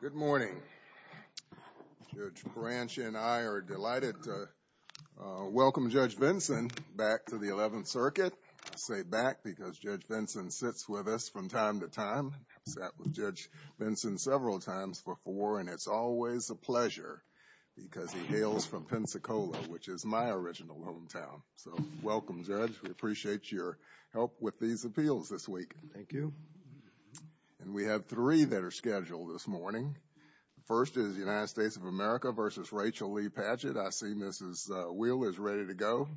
Good morning. Judge Branche and I are delighted to welcome Judge Vinson back to the 11th Circuit. I say back because Judge Vinson sits with us from time to time. I've sat with Judge Vinson several times before, and it's always a pleasure because he hails from Pensacola, which is my original hometown. So welcome, Judge. We appreciate your help with these appeals this week. Thank you. And we have three that are scheduled this morning. First is the United States of America v. Rachel Lee Padgett. I see Mrs. Wheel is ready to go.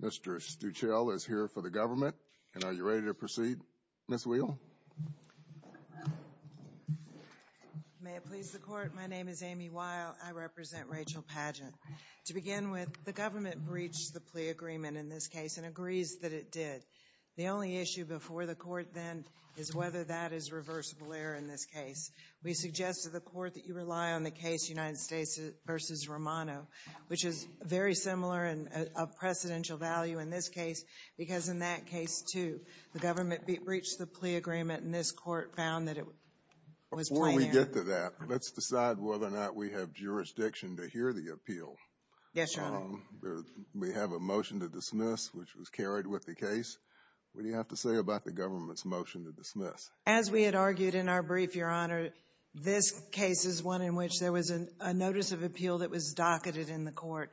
Mr. Stuchel is here for the government. And are you ready to proceed, Ms. Wheel? May it please the Court. My name is Amy Weil. I represent Rachel Padgett. To begin with, the government breached the plea agreement in this case and agrees that it did. The only issue before the Court then is whether that is reversible error in this case. We suggest to the Court that you rely on the case United States v. Romano, which is very similar and of precedential value in this case because in that case, too, the government breached the plea agreement, and this Court found that it was plain error. Before we get to that, let's decide whether or not we have jurisdiction to hear the appeal. Yes, Your Honor. We have a motion to dismiss, which was carried with the case. We have to say about the government's motion to dismiss. As we had argued in our brief, Your Honor, this case is one in which there was a notice of appeal that was docketed in the Court.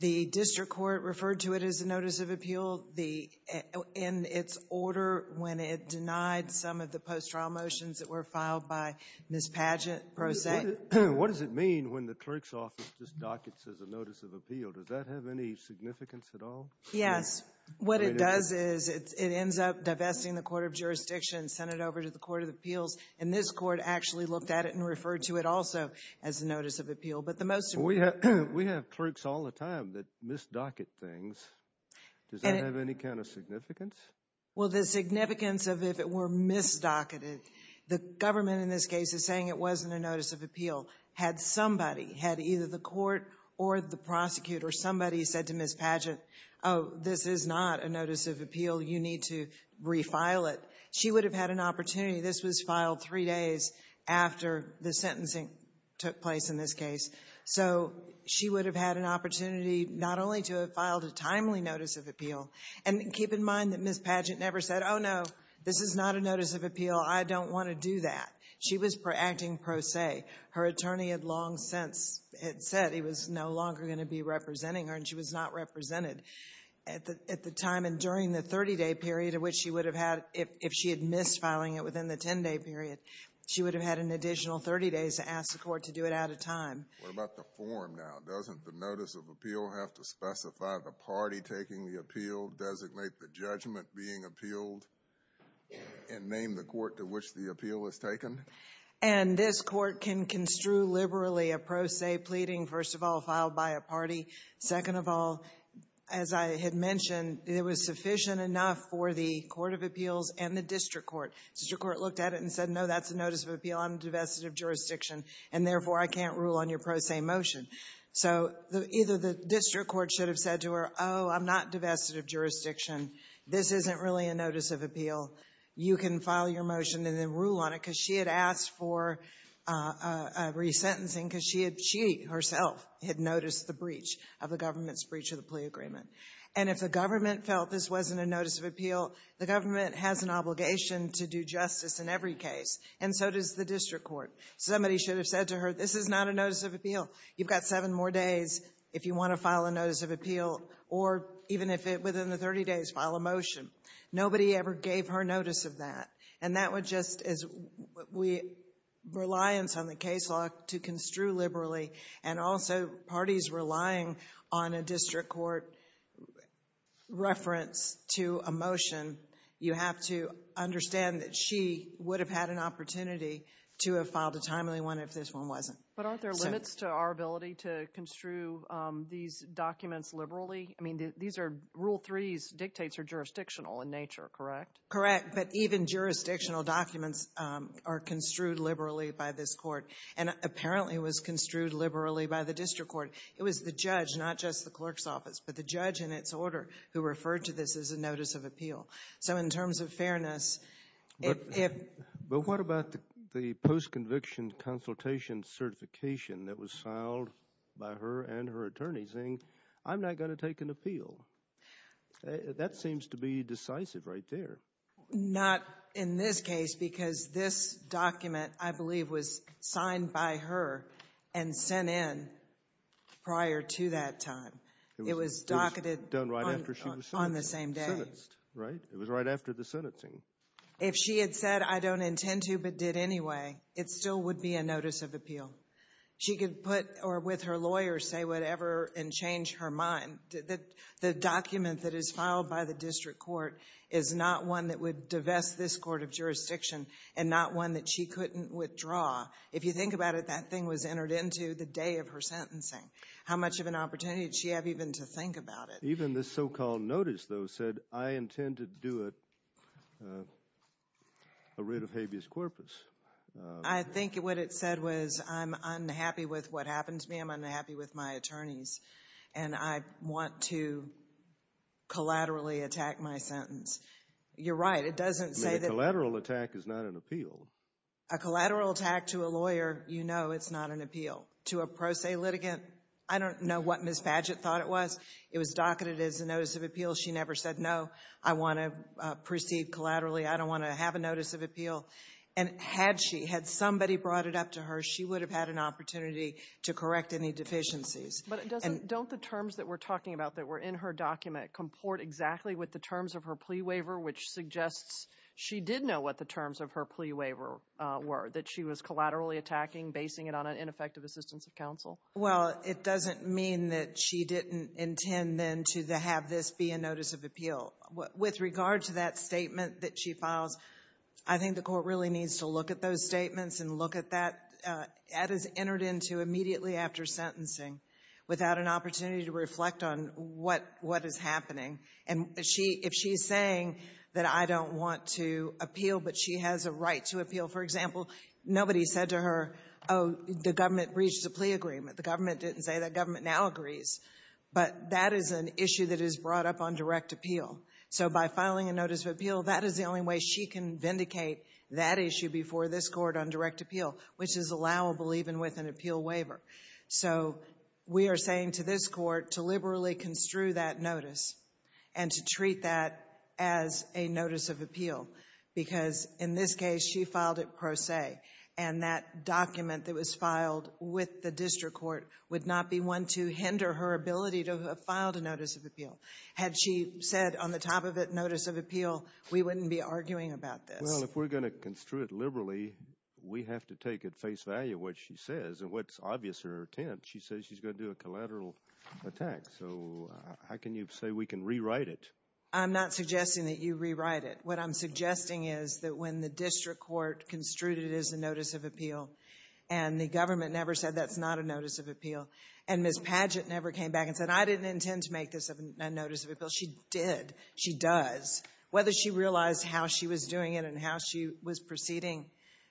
The district court referred to it as a notice of appeal in its order when it denied some of the post-trial motions that were filed by Ms. Padgett, pro se. What does it mean when the clerk's office just dockets as a notice of appeal? Does that have any significance at all? Yes. What it does is it ends up divesting the Court of Jurisdiction, sent it over to the Court of Appeals, and this Court actually looked at it and referred to it also as a notice of appeal. But the most important... We have clerks all the time that mis-docket things. Does that have any kind of significance? Well, the significance of if it were mis-docketed, the government in this case is saying it wasn't a notice of appeal. Had somebody, had either the Court or the prosecutor, somebody said to Ms. Padgett, oh, this is not a notice of appeal, you need to refile it, she would have had an opportunity. This was filed three days after the sentencing took place in this case. So she would have had an opportunity not only to have filed a timely notice of appeal, and keep in mind that Ms. Padgett never said, oh, no, this is not a notice of appeal, I don't want to do that. She was acting pro se. Her attorney had long since said he was no longer going to be representing her, and she was not represented at the time. And during the 30-day period of which she would have had, if she had missed filing it within the 10-day period, she would have had an additional 30 days to ask the Court to do it out of time. What about the form now? Doesn't the notice of appeal have to specify the party taking the appeal, designate the judgment being appealed, and name the court to which the appeal is taken? And this Court can construe liberally a pro se pleading, first of all, filed by a party. Second of all, as I had mentioned, it was sufficient enough for the Court of Appeals and the District Court. The District Court looked at it and said, no, that's a notice of appeal, I'm divested of jurisdiction, and therefore I can't rule on your pro se motion. So either the District Court should have said to her, oh, I'm not divested of jurisdiction, this isn't really a notice of appeal, you can file your motion and then rule on it, because she had asked for re-sentencing, because she herself had noticed the breach of the government's breach of the plea agreement. And if the government felt this wasn't a notice of appeal, the government has an obligation to do justice in every case, and so does the District Court. Somebody should have said to her, this is not a notice of appeal, you've got seven more days if you want to file a notice of appeal, or even if within the 30 days, file a motion. Nobody ever gave her notice of that. And that would just, as we, reliance on the case law to construe liberally, and also parties relying on a District Court reference to a motion, you have to understand that she would have had an opportunity to have filed a timely one if this one wasn't. But aren't there limits to our ability to construe these documents liberally? I mean, these are, Rule 3's dictates are jurisdictional in nature, correct? Correct, but even jurisdictional documents are construed liberally by this court, and apparently it was construed liberally by the District Court. It was the judge, not just the clerk's office, but the judge in its order who referred to this as a notice of appeal. So in terms of fairness, if... But what about the post-conviction consultation certification that was filed by her and her Not in this case, because this document, I believe, was signed by her and sent in prior to that time. It was docketed on the same day. It was done right after she was sentenced, right? It was right after the sentencing. If she had said, I don't intend to, but did anyway, it still would be a notice of appeal. She could put, or with her lawyer, say whatever and change her mind. The document that is one that would divest this court of jurisdiction and not one that she couldn't withdraw. If you think about it, that thing was entered into the day of her sentencing. How much of an opportunity did she have even to think about it? Even this so-called notice, though, said, I intend to do a writ of habeas corpus. I think what it said was, I'm unhappy with what happened to me, I'm unhappy with my attorneys, and I want to collaterally attack my sentence. You're right. It doesn't say that A collateral attack is not an appeal. A collateral attack to a lawyer, you know it's not an appeal. To a pro se litigant, I don't know what Ms. Padgett thought it was. It was docketed as a notice of appeal. She never said, no, I want to proceed collaterally. I don't want to have a notice of appeal. And had she, had somebody brought it up to her, she would have had an opportunity to correct any deficiencies. But doesn't, don't the terms that we're talking about that were in her document comport exactly with the terms of her plea waiver, which suggests she did know what the terms of her plea waiver were, that she was collaterally attacking, basing it on an ineffective assistance of counsel? Well, it doesn't mean that she didn't intend then to have this be a notice of appeal. With regard to that statement that she files, I think the court really needs to look at those statements and look at that. That is entered into immediately after sentencing without an opportunity to reflect on what, what is happening. And she, if she's saying that I don't want to appeal but she has a right to appeal, for example, nobody said to her, oh, the government breached the plea agreement. The government didn't say that. Government now agrees. But that is an issue that is brought up on direct appeal. So by filing a notice of appeal, that is the only way she can vindicate that issue before this Court on direct appeal, which is allowable even with an appeal waiver. So we are saying to this Court to liberally construe that notice and to treat that as a notice of appeal, because in this case, she filed it pro se, and that document that was filed with the district court would not be one to hinder her ability to have filed a notice of appeal. Had she said on the top of it, notice of appeal, we wouldn't be arguing about this. Well, if we're going to construe it liberally, we have to take at face value what she says. And what's obvious in her intent, she says she's going to do a collateral attack. So how can you say we can rewrite it? I'm not suggesting that you rewrite it. What I'm suggesting is that when the district court construed it as a notice of appeal and the government never said that's not a notice of appeal, and Ms. Padgett never came back and said I didn't intend to make this a notice of appeal, she did, she does, whether she realized how she was doing it and how she was proceeding,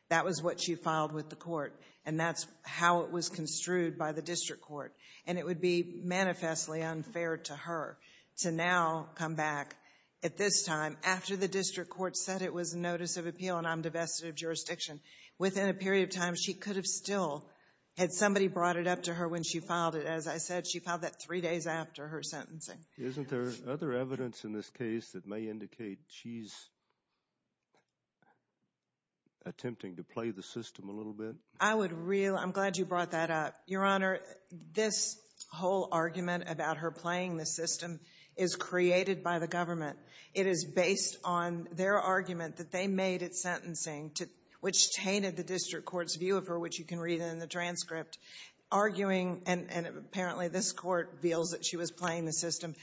that was what she filed with the court. And that's how it was construed by the district court. And it would be manifestly unfair to her to now come back at this time, after the district court said it was a notice of appeal and I'm divested of jurisdiction. Within a period of time, she could have still had somebody brought it up to her when she filed it. As I said, she filed that three days after her sentencing. Isn't there other evidence in this case that may indicate she's attempting to play the system a little bit? I would really ‑‑ I'm glad you brought that up. Your Honor, this whole argument about her playing the system is created by the government. It is based on their argument that they made at sentencing, which tainted the district court's view of her, which you can read in the transcript, arguing, and apparently this court feels that she was playing the system.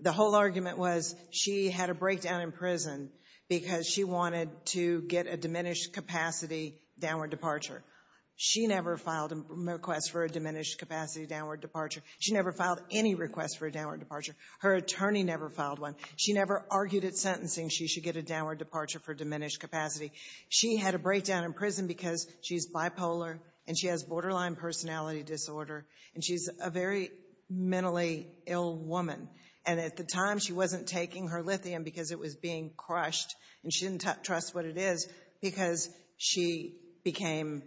The whole argument was she had a breakdown in prison because she wanted to get a diminished capacity downward departure. She never filed a request for a diminished capacity downward departure. She never filed any request for a downward departure. Her attorney never filed one. She never argued at sentencing she should get a downward departure for diminished capacity. She had a breakdown in prison because she's bipolar and she has borderline personality disorder, and she's a very mentally ill woman, and at the time she wasn't taking her lithium because it was being crushed and she didn't trust what it is because she became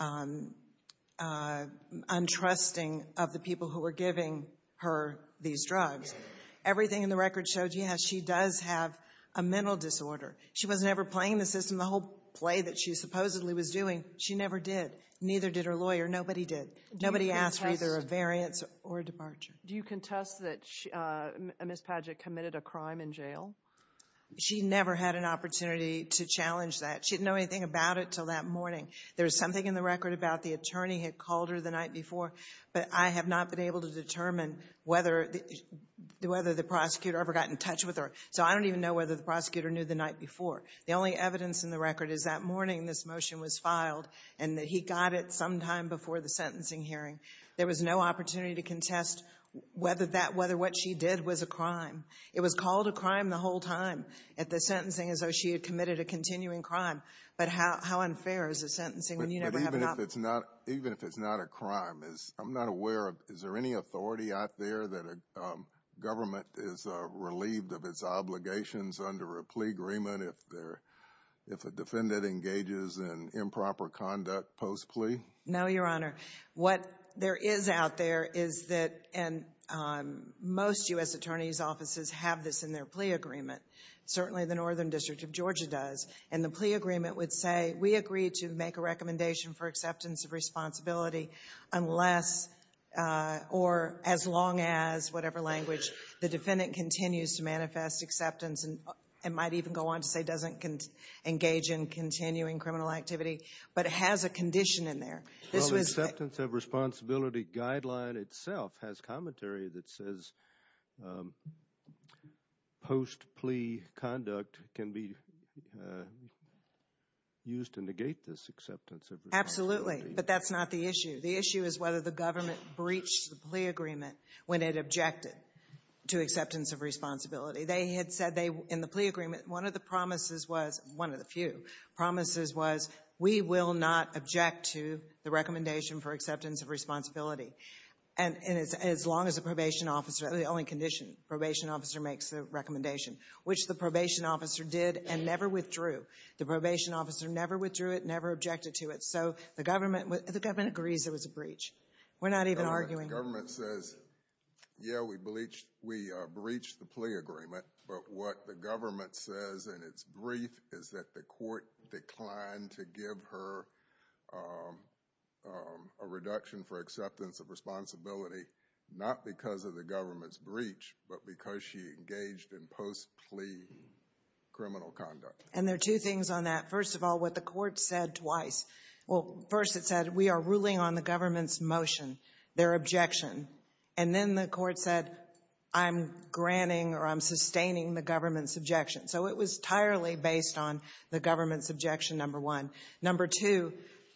untrusting of the people who were giving her these drugs. Everything in the record shows you how she does have a mental disorder. She was never playing the system. The whole play that she supposedly was doing, she never did. Neither did her lawyer. Nobody did. Nobody asked for either a variance or a departure. Do you contest that Ms. Padgett committed a crime in jail? She never had an opportunity to challenge that. She didn't know anything about it until that morning. There is something in the record about the attorney had called her the night before, but I have not been able to determine whether the prosecutor ever got in touch with her, so I don't even know whether the prosecutor knew the night before. The only evidence in the record is that morning this motion was filed and that he got it sometime before the sentencing hearing. There was no opportunity to contest whether what she did was a crime. It was called a crime the whole time at the sentencing as though she had committed a continuing crime, but how unfair is a sentencing when you never have a copy? But even if it's not a crime, I'm not aware of, is there any authority out there that a government is relieved of its obligations under a plea agreement if a defendant engages in improper conduct post-plea? No, Your Honor. What there is out there is that most U.S. attorney's offices have this in their plea agreement. Certainly the Northern District of Georgia does, and the plea agreement would say we agree to make a recommendation for acceptance of responsibility unless or as long as, whatever language, the defendant continues to manifest acceptance and might even go on to say doesn't engage in continuing criminal activity, but it has a condition in there. Well, the acceptance of responsibility guideline itself has commentary that says post-plea conduct can be used to negate this acceptance of responsibility. Absolutely, but that's not the issue. The issue is whether the government breached the plea agreement when it objected to acceptance of responsibility. They had said in the plea agreement one of the promises was, one of the few promises was, we will not object to the recommendation for acceptance of responsibility. And as long as the probation officer, the only condition, probation officer makes a recommendation, which the probation officer did and never withdrew. The probation officer never withdrew it, never objected to it. So the government agrees it was a breach. We're not even arguing. The government says, yeah, we breached the plea agreement, but what the government says in its brief is that the court declined to give her a reduction for acceptance of responsibility, not because of the government's breach, but because she engaged in post-plea criminal conduct. And there are two things on that. First of all, what the court said twice. Well, first it said, we are ruling on the government's motion, their objection. And then the court said, I'm granting or I'm sustaining the government's objection. So it was entirely based on the government's objection, number one. Number two,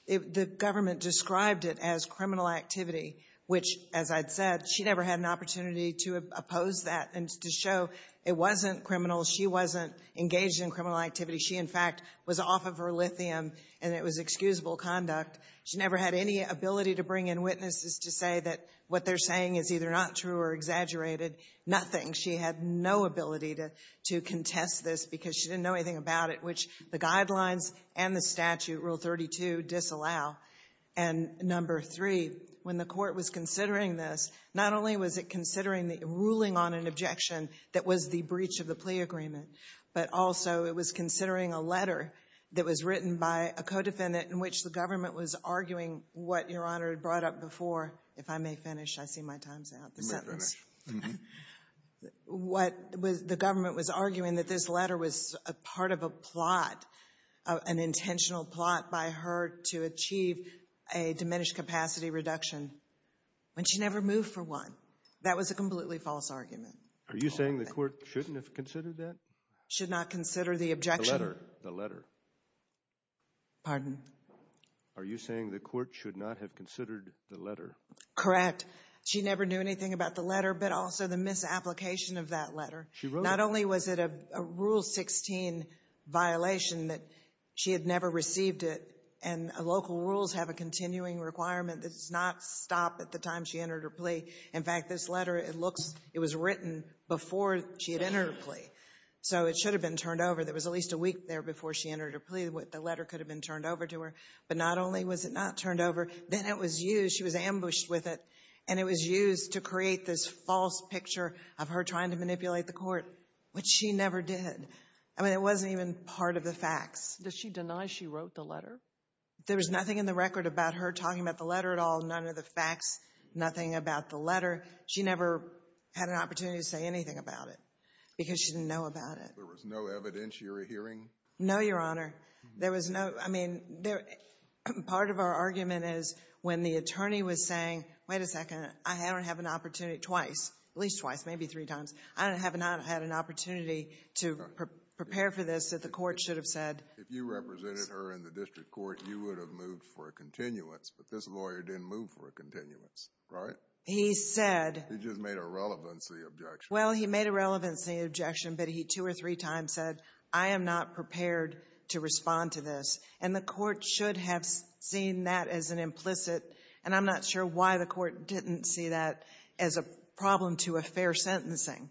the government described it as criminal activity, which, as I'd said, she never had an opportunity to oppose that and to show it wasn't criminal. She wasn't engaged in criminal activity. She, in fact, was off of her lithium and it was excusable conduct. She never had any ability to bring in witnesses to say that what they're saying is either not true or exaggerated, nothing. She had no ability to contest this because she didn't know anything about it, which the guidelines and the statute, Rule 32, disallow. And number three, when the court was considering this, not only was it considering the ruling on an objection that was the breach of the plea agreement, but also it was considering a letter that was written by a co-defendant in which the government was arguing what Your Honor had brought up before. If I may finish, I see my time's out. You may finish. What the government was arguing that this letter was part of a plot, an intentional plot by her to achieve a diminished capacity reduction when she never moved for one. That was a completely false argument. Are you saying the court shouldn't have considered that? Should not consider the objection? The letter, the letter. Pardon? Are you saying the court should not have considered the letter? Correct. She never knew anything about the letter, but also the misapplication of that letter. She wrote it. Not only was it a Rule 16 violation that she had never received it, and local rules have a continuing requirement that does not stop at the time she entered her plea. In fact, this letter, it looks, it was written before she had entered her plea, so it should have been turned over. There was at least a week there before she entered her plea. The letter could have been turned over to her, but not only was it not turned over, then it was used, she was ambushed with it, and it was used to create this false picture of her trying to manipulate the court, which she never did. I mean, it wasn't even part of the facts. Does she deny she wrote the letter? Nothing about the letter. She never had an opportunity to say anything about it because she didn't know about it. There was no evidence you were hearing? No, Your Honor. There was no, I mean, part of our argument is when the attorney was saying, wait a second, I don't have an opportunity, twice, at least twice, maybe three times, I have not had an opportunity to prepare for this that the court should have said. If you represented her in the district court, you would have moved for a continuance, but this lawyer didn't move for a continuance, right? He said. He just made a relevancy objection. Well, he made a relevancy objection, but he two or three times said, I am not prepared to respond to this. And the court should have seen that as an implicit, and I'm not sure why the court didn't see that as a problem to a fair sentencing,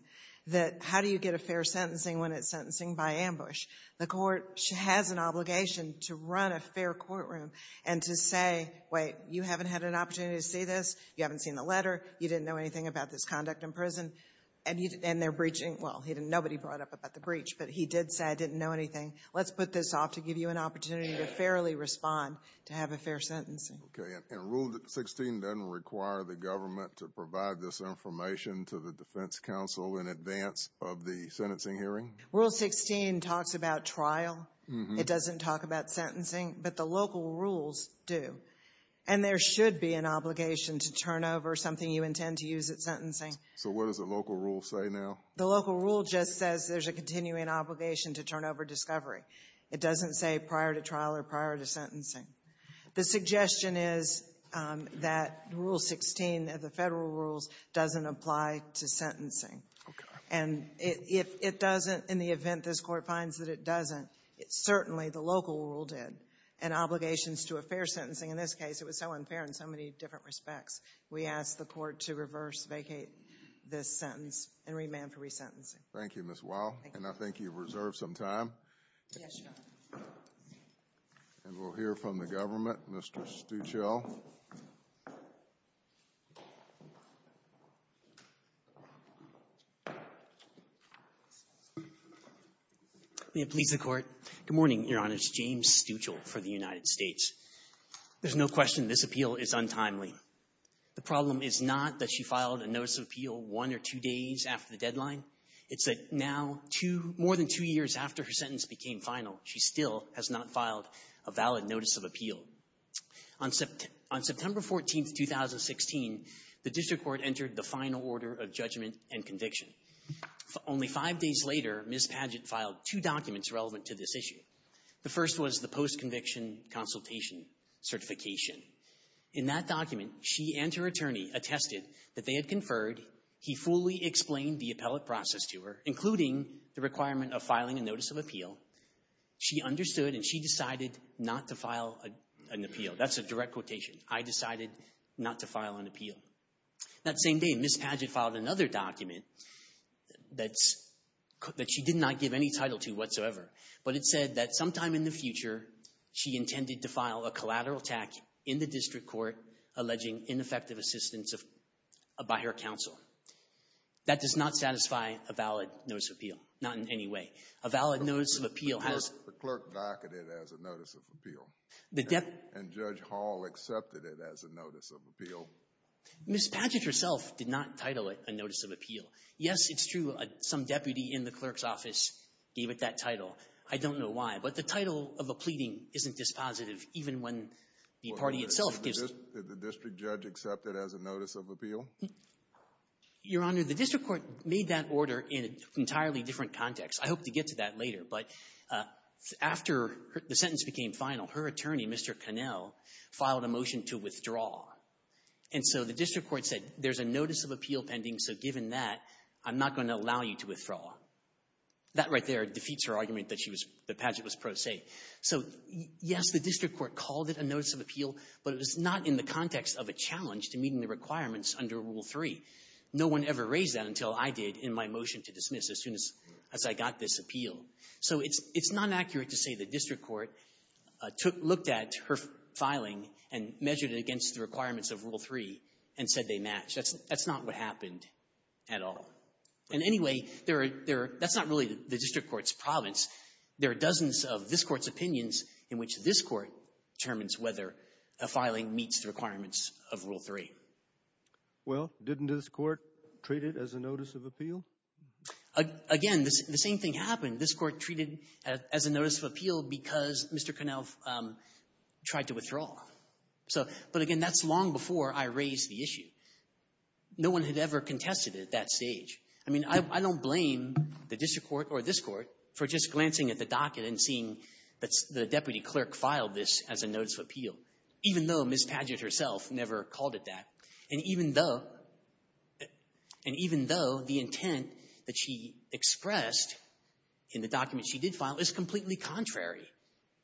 that how do you get a fair sentencing when it's sentencing by ambush? The court has an obligation to run a fair courtroom and to say, wait, you haven't had an opportunity to see this, you haven't seen the letter, you didn't know anything about this conduct in prison, and they're breaching, well, nobody brought up about the breach, but he did say I didn't know anything. Let's put this off to give you an opportunity to fairly respond to have a fair sentencing. Okay, and Rule 16 doesn't require the government to provide this information to the defense counsel in advance of the sentencing hearing? Rule 16 talks about trial. It doesn't talk about sentencing, but the local rules do. And there should be an obligation to turn over something you intend to use at sentencing. So what does the local rule say now? The local rule just says there's a continuing obligation to turn over discovery. It doesn't say prior to trial or prior to sentencing. The suggestion is that Rule 16 of the federal rules doesn't apply to sentencing. And if it doesn't, in the event this Court finds that it doesn't, certainly the local rule did, and obligations to a fair sentencing. In this case, it was so unfair in so many different respects. We ask the Court to reverse vacate this sentence and remand for resentencing. Thank you, Ms. Weil, and I think you've reserved some time. Yes, Your Honor. And we'll hear from the government. Mr. Stuchel. May it please the Court. Good morning, Your Honor. It's James Stuchel for the United States. There's no question this appeal is untimely. The problem is not that she filed a notice of appeal one or two days after the deadline. It's that now two — more than two years after her sentence became final, she still has not filed a valid notice of appeal. On September 14, 2016, the District Court entered the final order of judgment and conviction. Only five days later, Ms. Padgett filed two documents relevant to this issue. The first was the post-conviction consultation certification. In that document, she and her attorney attested that they had conferred. He fully explained the appellate process to her, including the requirement of filing a notice of appeal. She understood and she decided not to file an appeal. That's a direct quotation. I decided not to file an appeal. That same day, Ms. Padgett filed another document that she did not give any title to whatsoever. But it said that sometime in the future, she intended to file a collateral tax in the District Court alleging ineffective assistance by her counsel. That does not satisfy a valid notice of appeal. Not in any way. A valid notice of appeal has — The clerk docketed it as a notice of appeal. The — And Judge Hall accepted it as a notice of appeal. Ms. Padgett herself did not title it a notice of appeal. Yes, it's true. Some deputy in the clerk's office gave it that title. I don't know why. But the title of a pleading isn't dispositive, even when the party itself gives it. Did the district judge accept it as a notice of appeal? Your Honor, the District Court made that order in an entirely different context. I hope to get to that later. But after the sentence became final, her attorney, Mr. Connell, filed a motion to withdraw. And so the District Court said, there's a notice of appeal pending, so given that, I'm not going to allow you to withdraw. That right there defeats her argument that she was — that Padgett was pro se. So, yes, the District Court called it a notice of appeal, but it was not in the context of a challenge to meeting the requirements under Rule 3. No one ever raised that until I did in my motion to dismiss as soon as I got this appeal. So it's not accurate to say the District Court looked at her filing and measured it against the requirements of Rule 3 and said they match. That's not what happened at all. And anyway, that's not really the District Court's province. There are dozens of this Court's opinions in which this Court determines whether a filing meets the requirements of Rule 3. Well, didn't this Court treat it as a notice of appeal? Again, the same thing happened. This Court treated it as a notice of appeal because Mr. Connell tried to withdraw. So — but, again, that's long before I raised the issue. No one had ever contested it at that stage. I mean, I don't blame the District Court or this Court for just glancing at the docket even though Ms. Padgett herself never called it that, and even though the intent that she expressed in the document she did file is completely contrary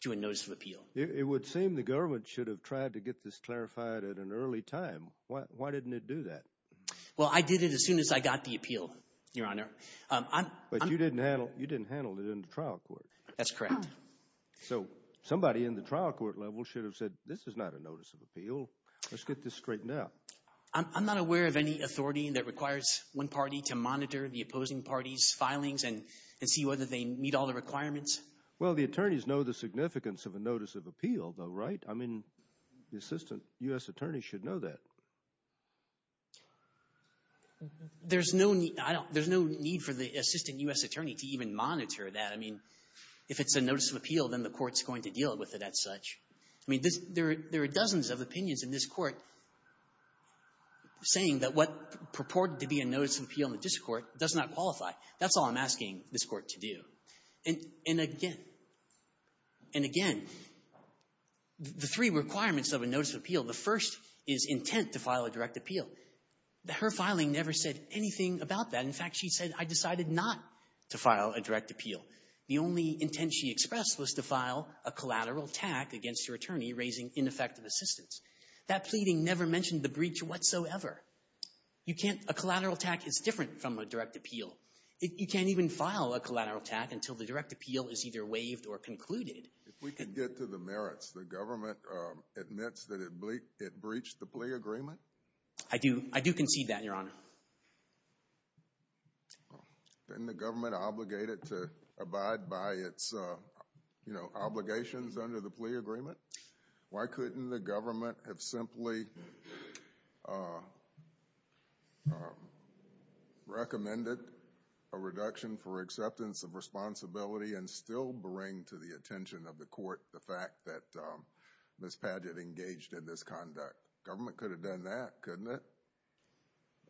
to a notice of appeal. It would seem the government should have tried to get this clarified at an early time. Why didn't it do that? Well, I did it as soon as I got the appeal, Your Honor. But you didn't handle it in the trial court. That's correct. So somebody in the trial court level should have said, this is not a notice of appeal. Let's get this straightened out. I'm not aware of any authority that requires one party to monitor the opposing party's filings and see whether they meet all the requirements. Well, the attorneys know the significance of a notice of appeal, though, right? I mean, the assistant U.S. attorney should know that. There's no need for the assistant U.S. attorney to even monitor that. I mean, if it's a notice of appeal, then the court's going to deal with it as such. I mean, there are dozens of opinions in this court saying that what purported to be a notice of appeal in the district court does not qualify. That's all I'm asking this court to do. And again, and again, the three requirements of a notice of appeal, the first is intent to file a direct appeal. Her filing never said anything about that. In fact, she said, I decided not to file a direct appeal. The only intent she expressed was to file a collateral attack against your attorney raising ineffective assistance. That pleading never mentioned the breach whatsoever. You can't – a collateral attack is different from a direct appeal. You can't even file a collateral attack until the direct appeal is either waived or concluded. If we can get to the merits, the government admits that it breached the plea agreement? I do. I do concede that, Your Honor. Isn't the government obligated to abide by its, you know, obligations under the plea agreement? Why couldn't the government have simply recommended a reduction for acceptance of responsibility and still bring to the attention of the court the fact that Ms. Padgett engaged in this conduct? Government could have done that, couldn't it?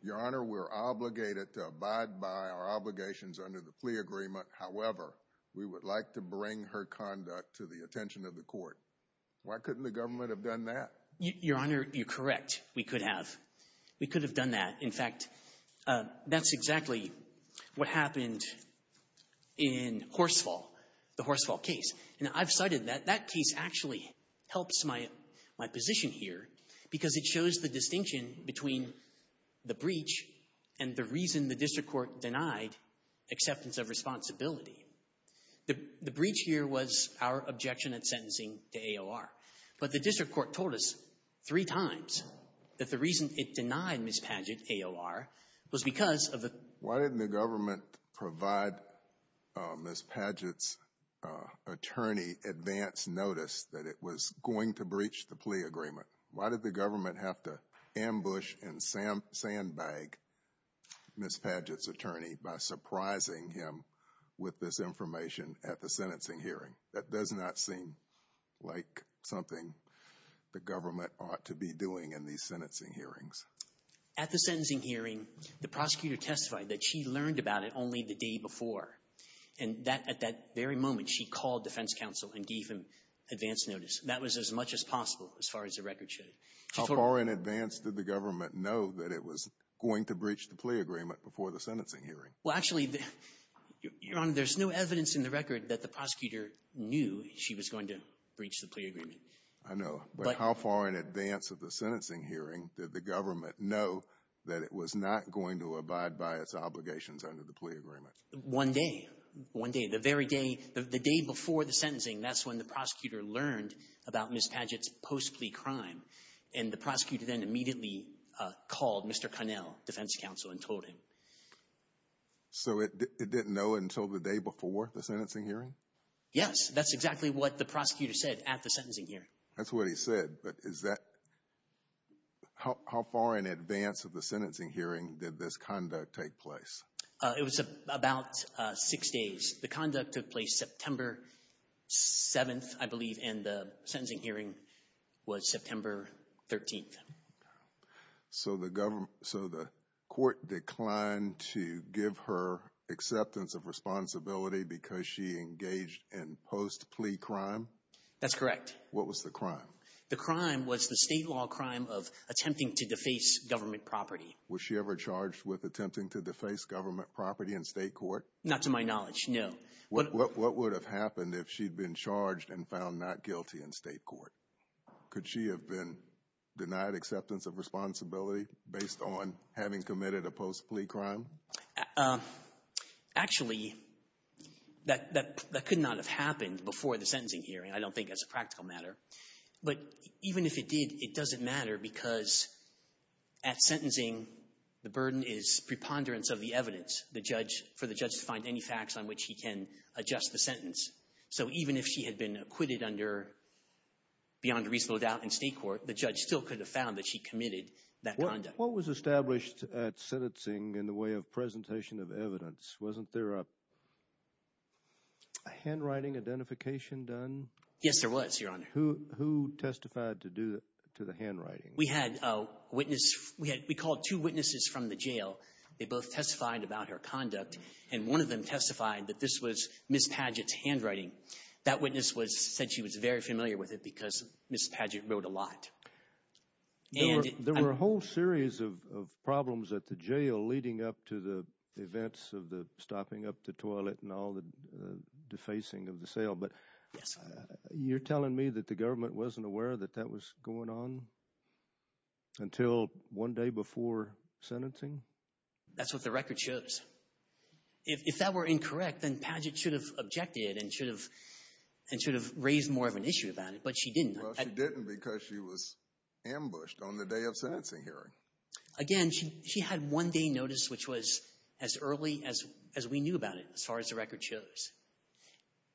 Your Honor, we're obligated to abide by our obligations under the plea agreement. However, we would like to bring her conduct to the attention of the court. Why couldn't the government have done that? Your Honor, you're correct. We could have. We could have done that. In fact, that's exactly what happened in Horsfall, the Horsfall case. And I've cited that. That case actually helps my position here because it shows the distinction between the breach and the reason the district court denied acceptance of responsibility. The breach here was our objection at sentencing to AOR. But the district court told us three times that the reason it denied Ms. Padgett AOR was because of the Why didn't the government provide Ms. Padgett's attorney advance notice that it was going to breach the plea agreement? Why did the government have to ambush and sandbag Ms. Padgett's attorney by surprising him with this information at the sentencing hearing? That does not seem like something the government ought to be doing in these sentencing hearings. At the sentencing hearing, the prosecutor testified that she learned about it only the day before. And at that very moment, she called defense counsel and gave him advance notice. That was as much as possible as far as the record showed. How far in advance did the government know that it was going to breach the plea agreement before the sentencing hearing? Well, actually, Your Honor, there's no evidence in the record that the prosecutor knew she was going to breach the plea agreement. I know. But how far in advance of the sentencing hearing did the government know that it was not going to abide by its obligations under the plea agreement? One day, one day, the very day, the day before the sentencing, that's when the prosecutor learned about Ms. Padgett's post-plea crime. And the prosecutor then immediately called Mr. Connell, defense counsel, and told him. So it didn't know until the day before the sentencing hearing? Yes. That's exactly what the prosecutor said at the sentencing hearing. That's what he said. But is that – how far in advance of the sentencing hearing did this conduct take place? It was about six days. The conduct took place September 7th, I believe, and the sentencing hearing was September 13th. So the court declined to give her acceptance of responsibility because she engaged in post-plea crime? That's correct. What was the crime? The crime was the state law crime of attempting to deface government property. Was she ever charged with attempting to deface government property in state court? Not to my knowledge, no. What would have happened if she'd been charged and found not guilty in state court? Could she have been denied acceptance of responsibility based on having committed a post-plea crime? Actually, that could not have happened before the sentencing hearing. I don't think that's a practical matter. But even if it did, it doesn't matter because at sentencing, the burden is preponderance of the evidence for the judge to find any facts on which he can adjust the sentence. So even if she had been acquitted under beyond reasonable doubt in state court, the judge still could have found that she committed that conduct. What was established at sentencing in the way of presentation of evidence? Wasn't there a handwriting identification done? Yes, there was, Your Honor. Who testified to the handwriting? We had a witness. We called two witnesses from the jail. They both testified about her conduct, and one of them testified that this was Ms. Padgett's handwriting. That witness said she was very familiar with it because Ms. Padgett wrote a lot. There were a whole series of problems at the jail leading up to the events of the stopping up the toilet and all the defacing of the cell. You're telling me that the government wasn't aware that that was going on until one day before sentencing? That's what the record shows. If that were incorrect, then Padgett should have objected and should have raised more of an issue about it, but she didn't. Well, she didn't because she was ambushed on the day of sentencing hearing. Again, she had one day notice, which was as early as we knew about it as far as the record shows.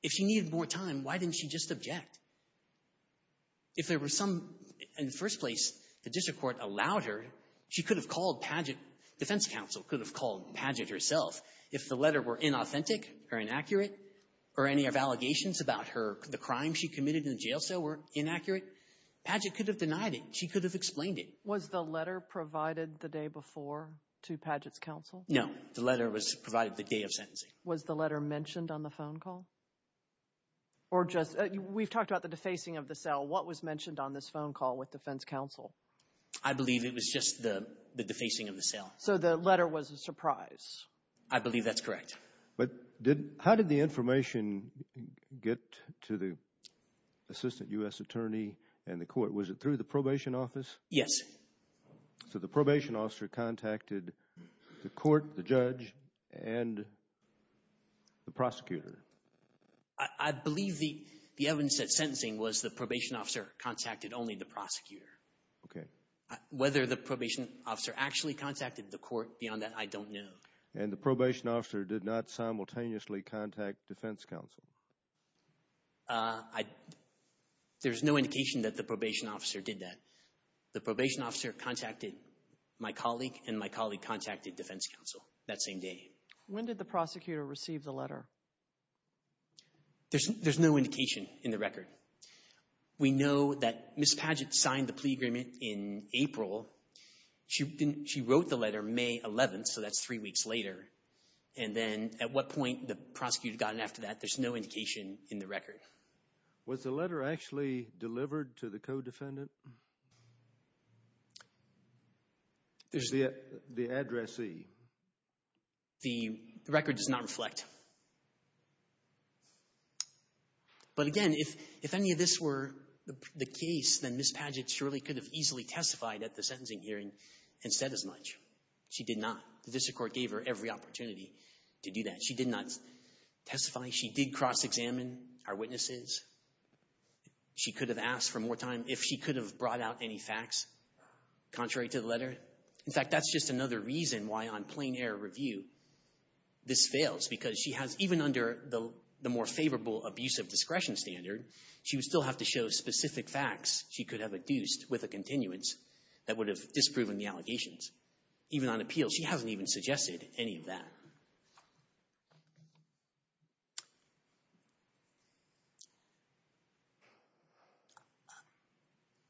If she needed more time, why didn't she just object? If there were some — in the first place, the district court allowed her. She could have called Padgett. Defense counsel could have called Padgett herself. If the letter were inauthentic or inaccurate or any of allegations about her — the crime she committed in the jail cell were inaccurate, Padgett could have denied it. She could have explained it. Was the letter provided the day before to Padgett's counsel? No. The letter was provided the day of sentencing. Was the letter mentioned on the phone call? Or just — we've talked about the defacing of the cell. What was mentioned on this phone call with defense counsel? I believe it was just the defacing of the cell. So the letter was a surprise. I believe that's correct. But did — how did the information get to the assistant U.S. attorney and the court? Was it through the probation office? Yes. So the probation officer contacted the court, the judge, and the prosecutor? I believe the evidence at sentencing was the probation officer contacted only the prosecutor. Okay. Whether the probation officer actually contacted the court beyond that, I don't know. And the probation officer did not simultaneously contact defense counsel? I — there's no indication that the probation officer did that. The probation officer contacted my colleague, and my colleague contacted defense counsel that same day. When did the prosecutor receive the letter? There's no indication in the record. We know that Ms. Padgett signed the plea agreement in April. She wrote the letter May 11th, so that's three weeks later. And then at what point the prosecutor got in after that, there's no indication in the record. Was the letter actually delivered to the co-defendant? The addressee. The record does not reflect. But again, if any of this were the case, then Ms. Padgett surely could have easily testified at the sentencing hearing and said as much. She did not. The district court gave her every opportunity to do that. She did not testify. She did cross-examine our witnesses. She could have asked for more time if she could have brought out any facts contrary to the letter. In fact, that's just another reason why on plain-air review this fails, because she has — even under the more favorable abusive discretion standard, she would still have to show specific facts she could have adduced with a continuance that would have disproven the allegations. Even on appeal, she hasn't even suggested any of that.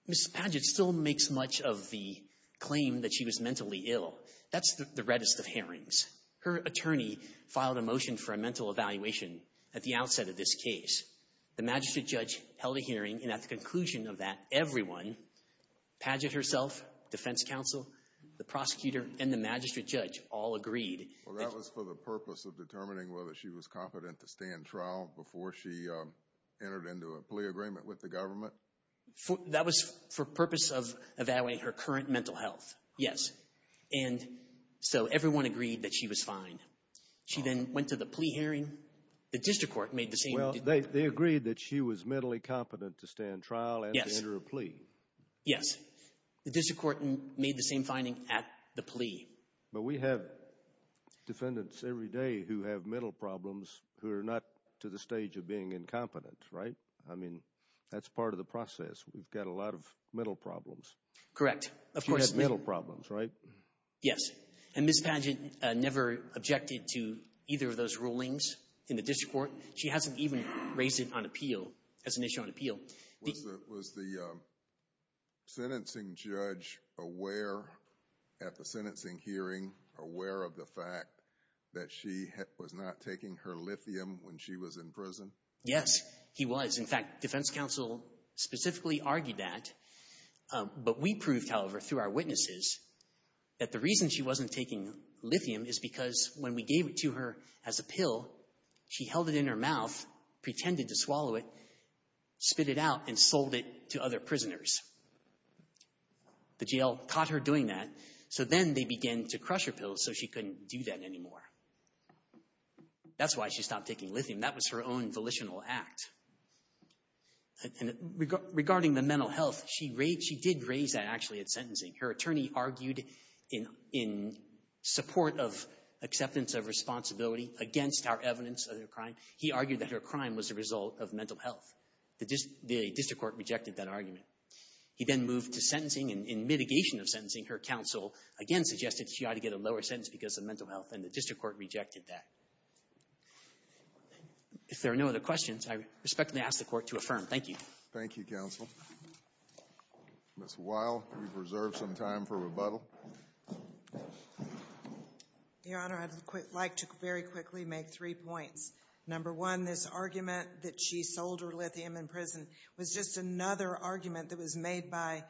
Ms. Padgett still makes much of the claim that she was mentally ill. That's the reddest of hearings. Her attorney filed a motion for a mental evaluation at the outset of this case. The magistrate judge held a hearing, and at the conclusion of that, everyone — Padgett herself, defense counsel, the prosecutor, and the magistrate judge all agreed — Well, that was for the purpose of determining whether she was competent to stand trial before she entered into a plea agreement with the government? That was for purpose of evaluating her current mental health, yes. And so everyone agreed that she was fine. She then went to the plea hearing. The district court made the same — Well, they agreed that she was mentally competent to stand trial and to enter a plea. Yes. The district court made the same finding at the plea. But we have defendants every day who have mental problems who are not to the stage of being incompetent, right? I mean, that's part of the process. We've got a lot of mental problems. Correct. She has mental problems, right? Yes. And Ms. Padgett never objected to either of those rulings in the district court. She hasn't even raised it on appeal, as an issue on appeal. Was the sentencing judge aware at the sentencing hearing, aware of the fact that she was not taking her lithium when she was in prison? Yes, he was. In fact, defense counsel specifically argued that. But we proved, however, through our witnesses, that the reason she wasn't taking lithium is because when we gave it to her as a pill, she held it in her mouth, pretended to swallow it, spit it out, and sold it to other prisoners. The jail caught her doing that. So then they began to crush her pills so she couldn't do that anymore. That's why she stopped taking lithium. That was her own volitional act. Regarding the mental health, she did raise that, actually, at sentencing. Her attorney argued in support of acceptance of responsibility against our evidence of her crime, he argued that her crime was a result of mental health. The district court rejected that argument. He then moved to sentencing, and in mitigation of sentencing, her counsel again suggested she ought to get a lower sentence because of mental health, and the district court rejected that. If there are no other questions, I respectfully ask the Court to affirm. Thank you. Thank you, counsel. Ms. Weil, you've reserved some time for rebuttal. Your Honor, I'd like to very quickly make three points. Number one, this argument that she sold her lithium in prison was just another argument that was made by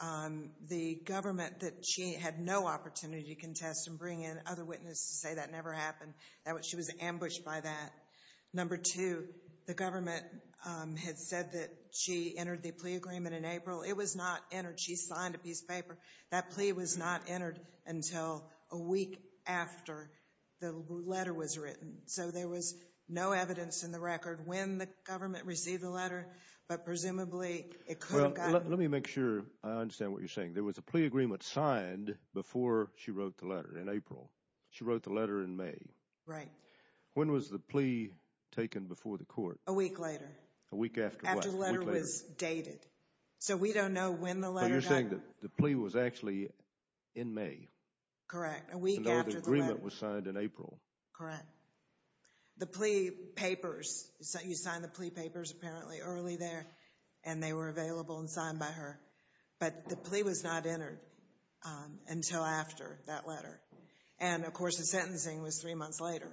the government that she had no opportunity to contest and bring in other witnesses to say that never happened, that she was ambushed by that. Number two, the government had said that she entered the plea agreement in April. It was not entered. She signed a piece of paper. That plea was not entered until a week after the letter was written, so there was no evidence in the record when the government received the letter, but presumably it could have gotten it. Well, let me make sure I understand what you're saying. There was a plea agreement signed before she wrote the letter in April. She wrote the letter in May. Right. When was the plea taken before the court? A week later. A week after what? After the letter was dated, so we don't know when the letter got it. So you're saying that the plea was actually in May? Correct, a week after the letter. And the agreement was signed in April. Correct. The plea papers, you signed the plea papers apparently early there, and, of course, the sentencing was three months later,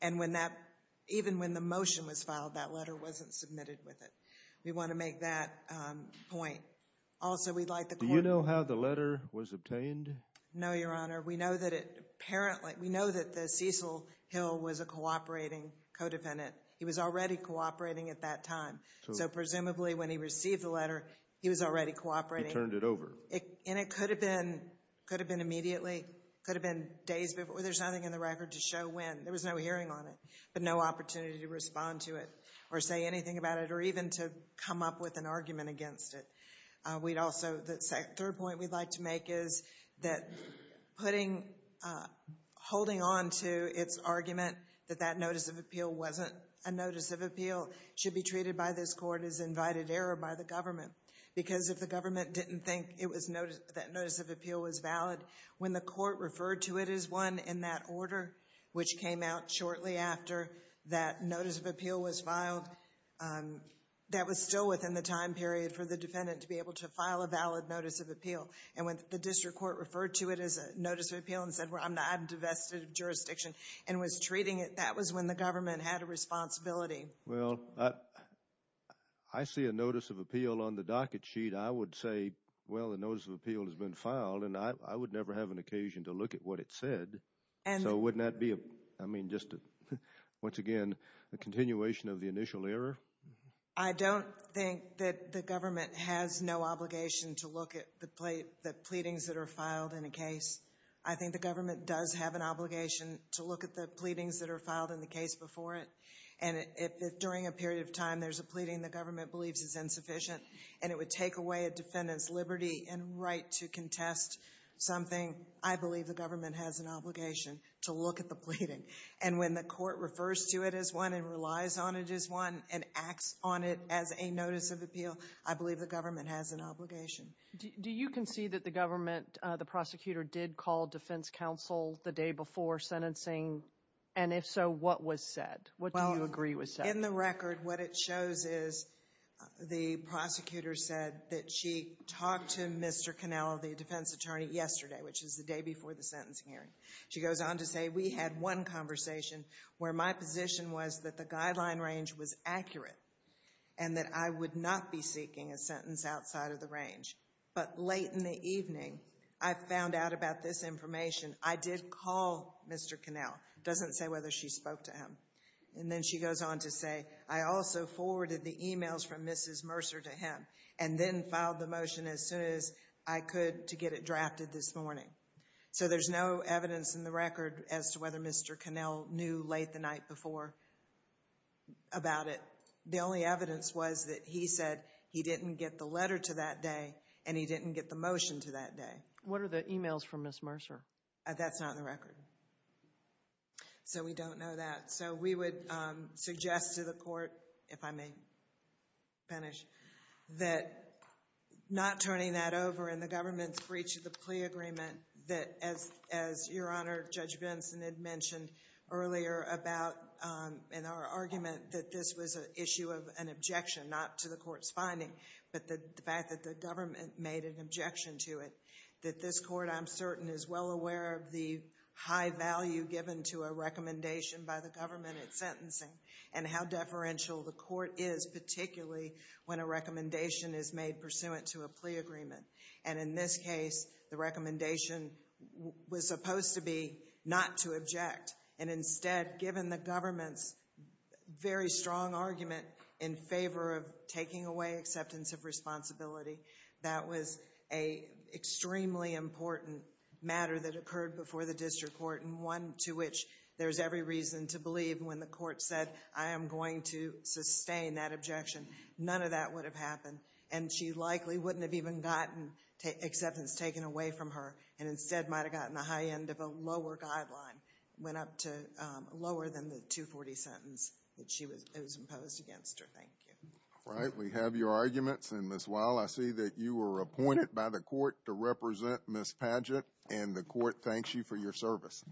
and even when the motion was filed, that letter wasn't submitted with it. We want to make that point. Also, we'd like the court to know. Do you know how the letter was obtained? No, Your Honor. We know that the Cecil Hill was a cooperating co-defendant. He was already cooperating at that time, so presumably when he received the letter, he was already cooperating. He turned it over. And it could have been immediately. It could have been days before. There's nothing in the record to show when. There was no hearing on it, but no opportunity to respond to it or say anything about it or even to come up with an argument against it. The third point we'd like to make is that holding on to its argument that that notice of appeal wasn't a notice of appeal should be treated by this court as invited error by the government because if the government didn't think that notice of appeal was valid, when the court referred to it as one in that order, which came out shortly after that notice of appeal was filed, that was still within the time period for the defendant to be able to file a valid notice of appeal. And when the district court referred to it as a notice of appeal and said, I'm divested of jurisdiction and was treating it, that was when the government had a responsibility. Well, I see a notice of appeal on the docket sheet. I would say, well, a notice of appeal has been filed, and I would never have an occasion to look at what it said. So wouldn't that be, I mean, just once again, a continuation of the initial error? I don't think that the government has no obligation to look at the pleadings that are filed in a case. I think the government does have an obligation to look at the pleadings that are filed in the case before it. And if during a period of time there's a pleading the government believes is insufficient and it would take away a defendant's liberty and right to contest something, I believe the government has an obligation to look at the pleading. And when the court refers to it as one and relies on it as one and acts on it as a notice of appeal, I believe the government has an obligation. Do you concede that the government, the prosecutor, did call defense counsel the day before sentencing? And if so, what was said? What do you agree was said? In the record what it shows is the prosecutor said that she talked to Mr. Connell, the defense attorney, yesterday, which is the day before the sentencing hearing. She goes on to say, We had one conversation where my position was that the guideline range was accurate and that I would not be seeking a sentence outside of the range. But late in the evening I found out about this information. I did call Mr. Connell. It doesn't say whether she spoke to him. And then she goes on to say, I also forwarded the emails from Mrs. Mercer to him and then filed the motion as soon as I could to get it drafted this morning. So there's no evidence in the record as to whether Mr. Connell knew late the night before about it. The only evidence was that he said he didn't get the letter to that day and he didn't get the motion to that day. That's not in the record. So we don't know that. So we would suggest to the court, if I may finish, that not turning that over in the government's breach of the plea agreement, that as Your Honor, Judge Benson had mentioned earlier about in our argument that this was an issue of an objection, not to the court's finding, but the fact that the government made an objection to it, that this court, I'm certain, is well aware of the high value given to a recommendation by the government at sentencing and how deferential the court is, particularly when a recommendation is made pursuant to a plea agreement. And in this case, the recommendation was supposed to be not to object and instead, given the government's very strong argument in favor of taking away acceptance of responsibility, that was an extremely important matter that occurred before the district court and one to which there's every reason to believe when the court said, I am going to sustain that objection. None of that would have happened and she likely wouldn't have even gotten acceptance taken away from her and instead might have gotten a high end of a lower guideline, went up to lower than the 240 sentence that was imposed against her. Thank you. All right. We have your arguments. And Ms. Weil, I see that you were appointed by the court to represent Ms. Padgett and the court thanks you for your service.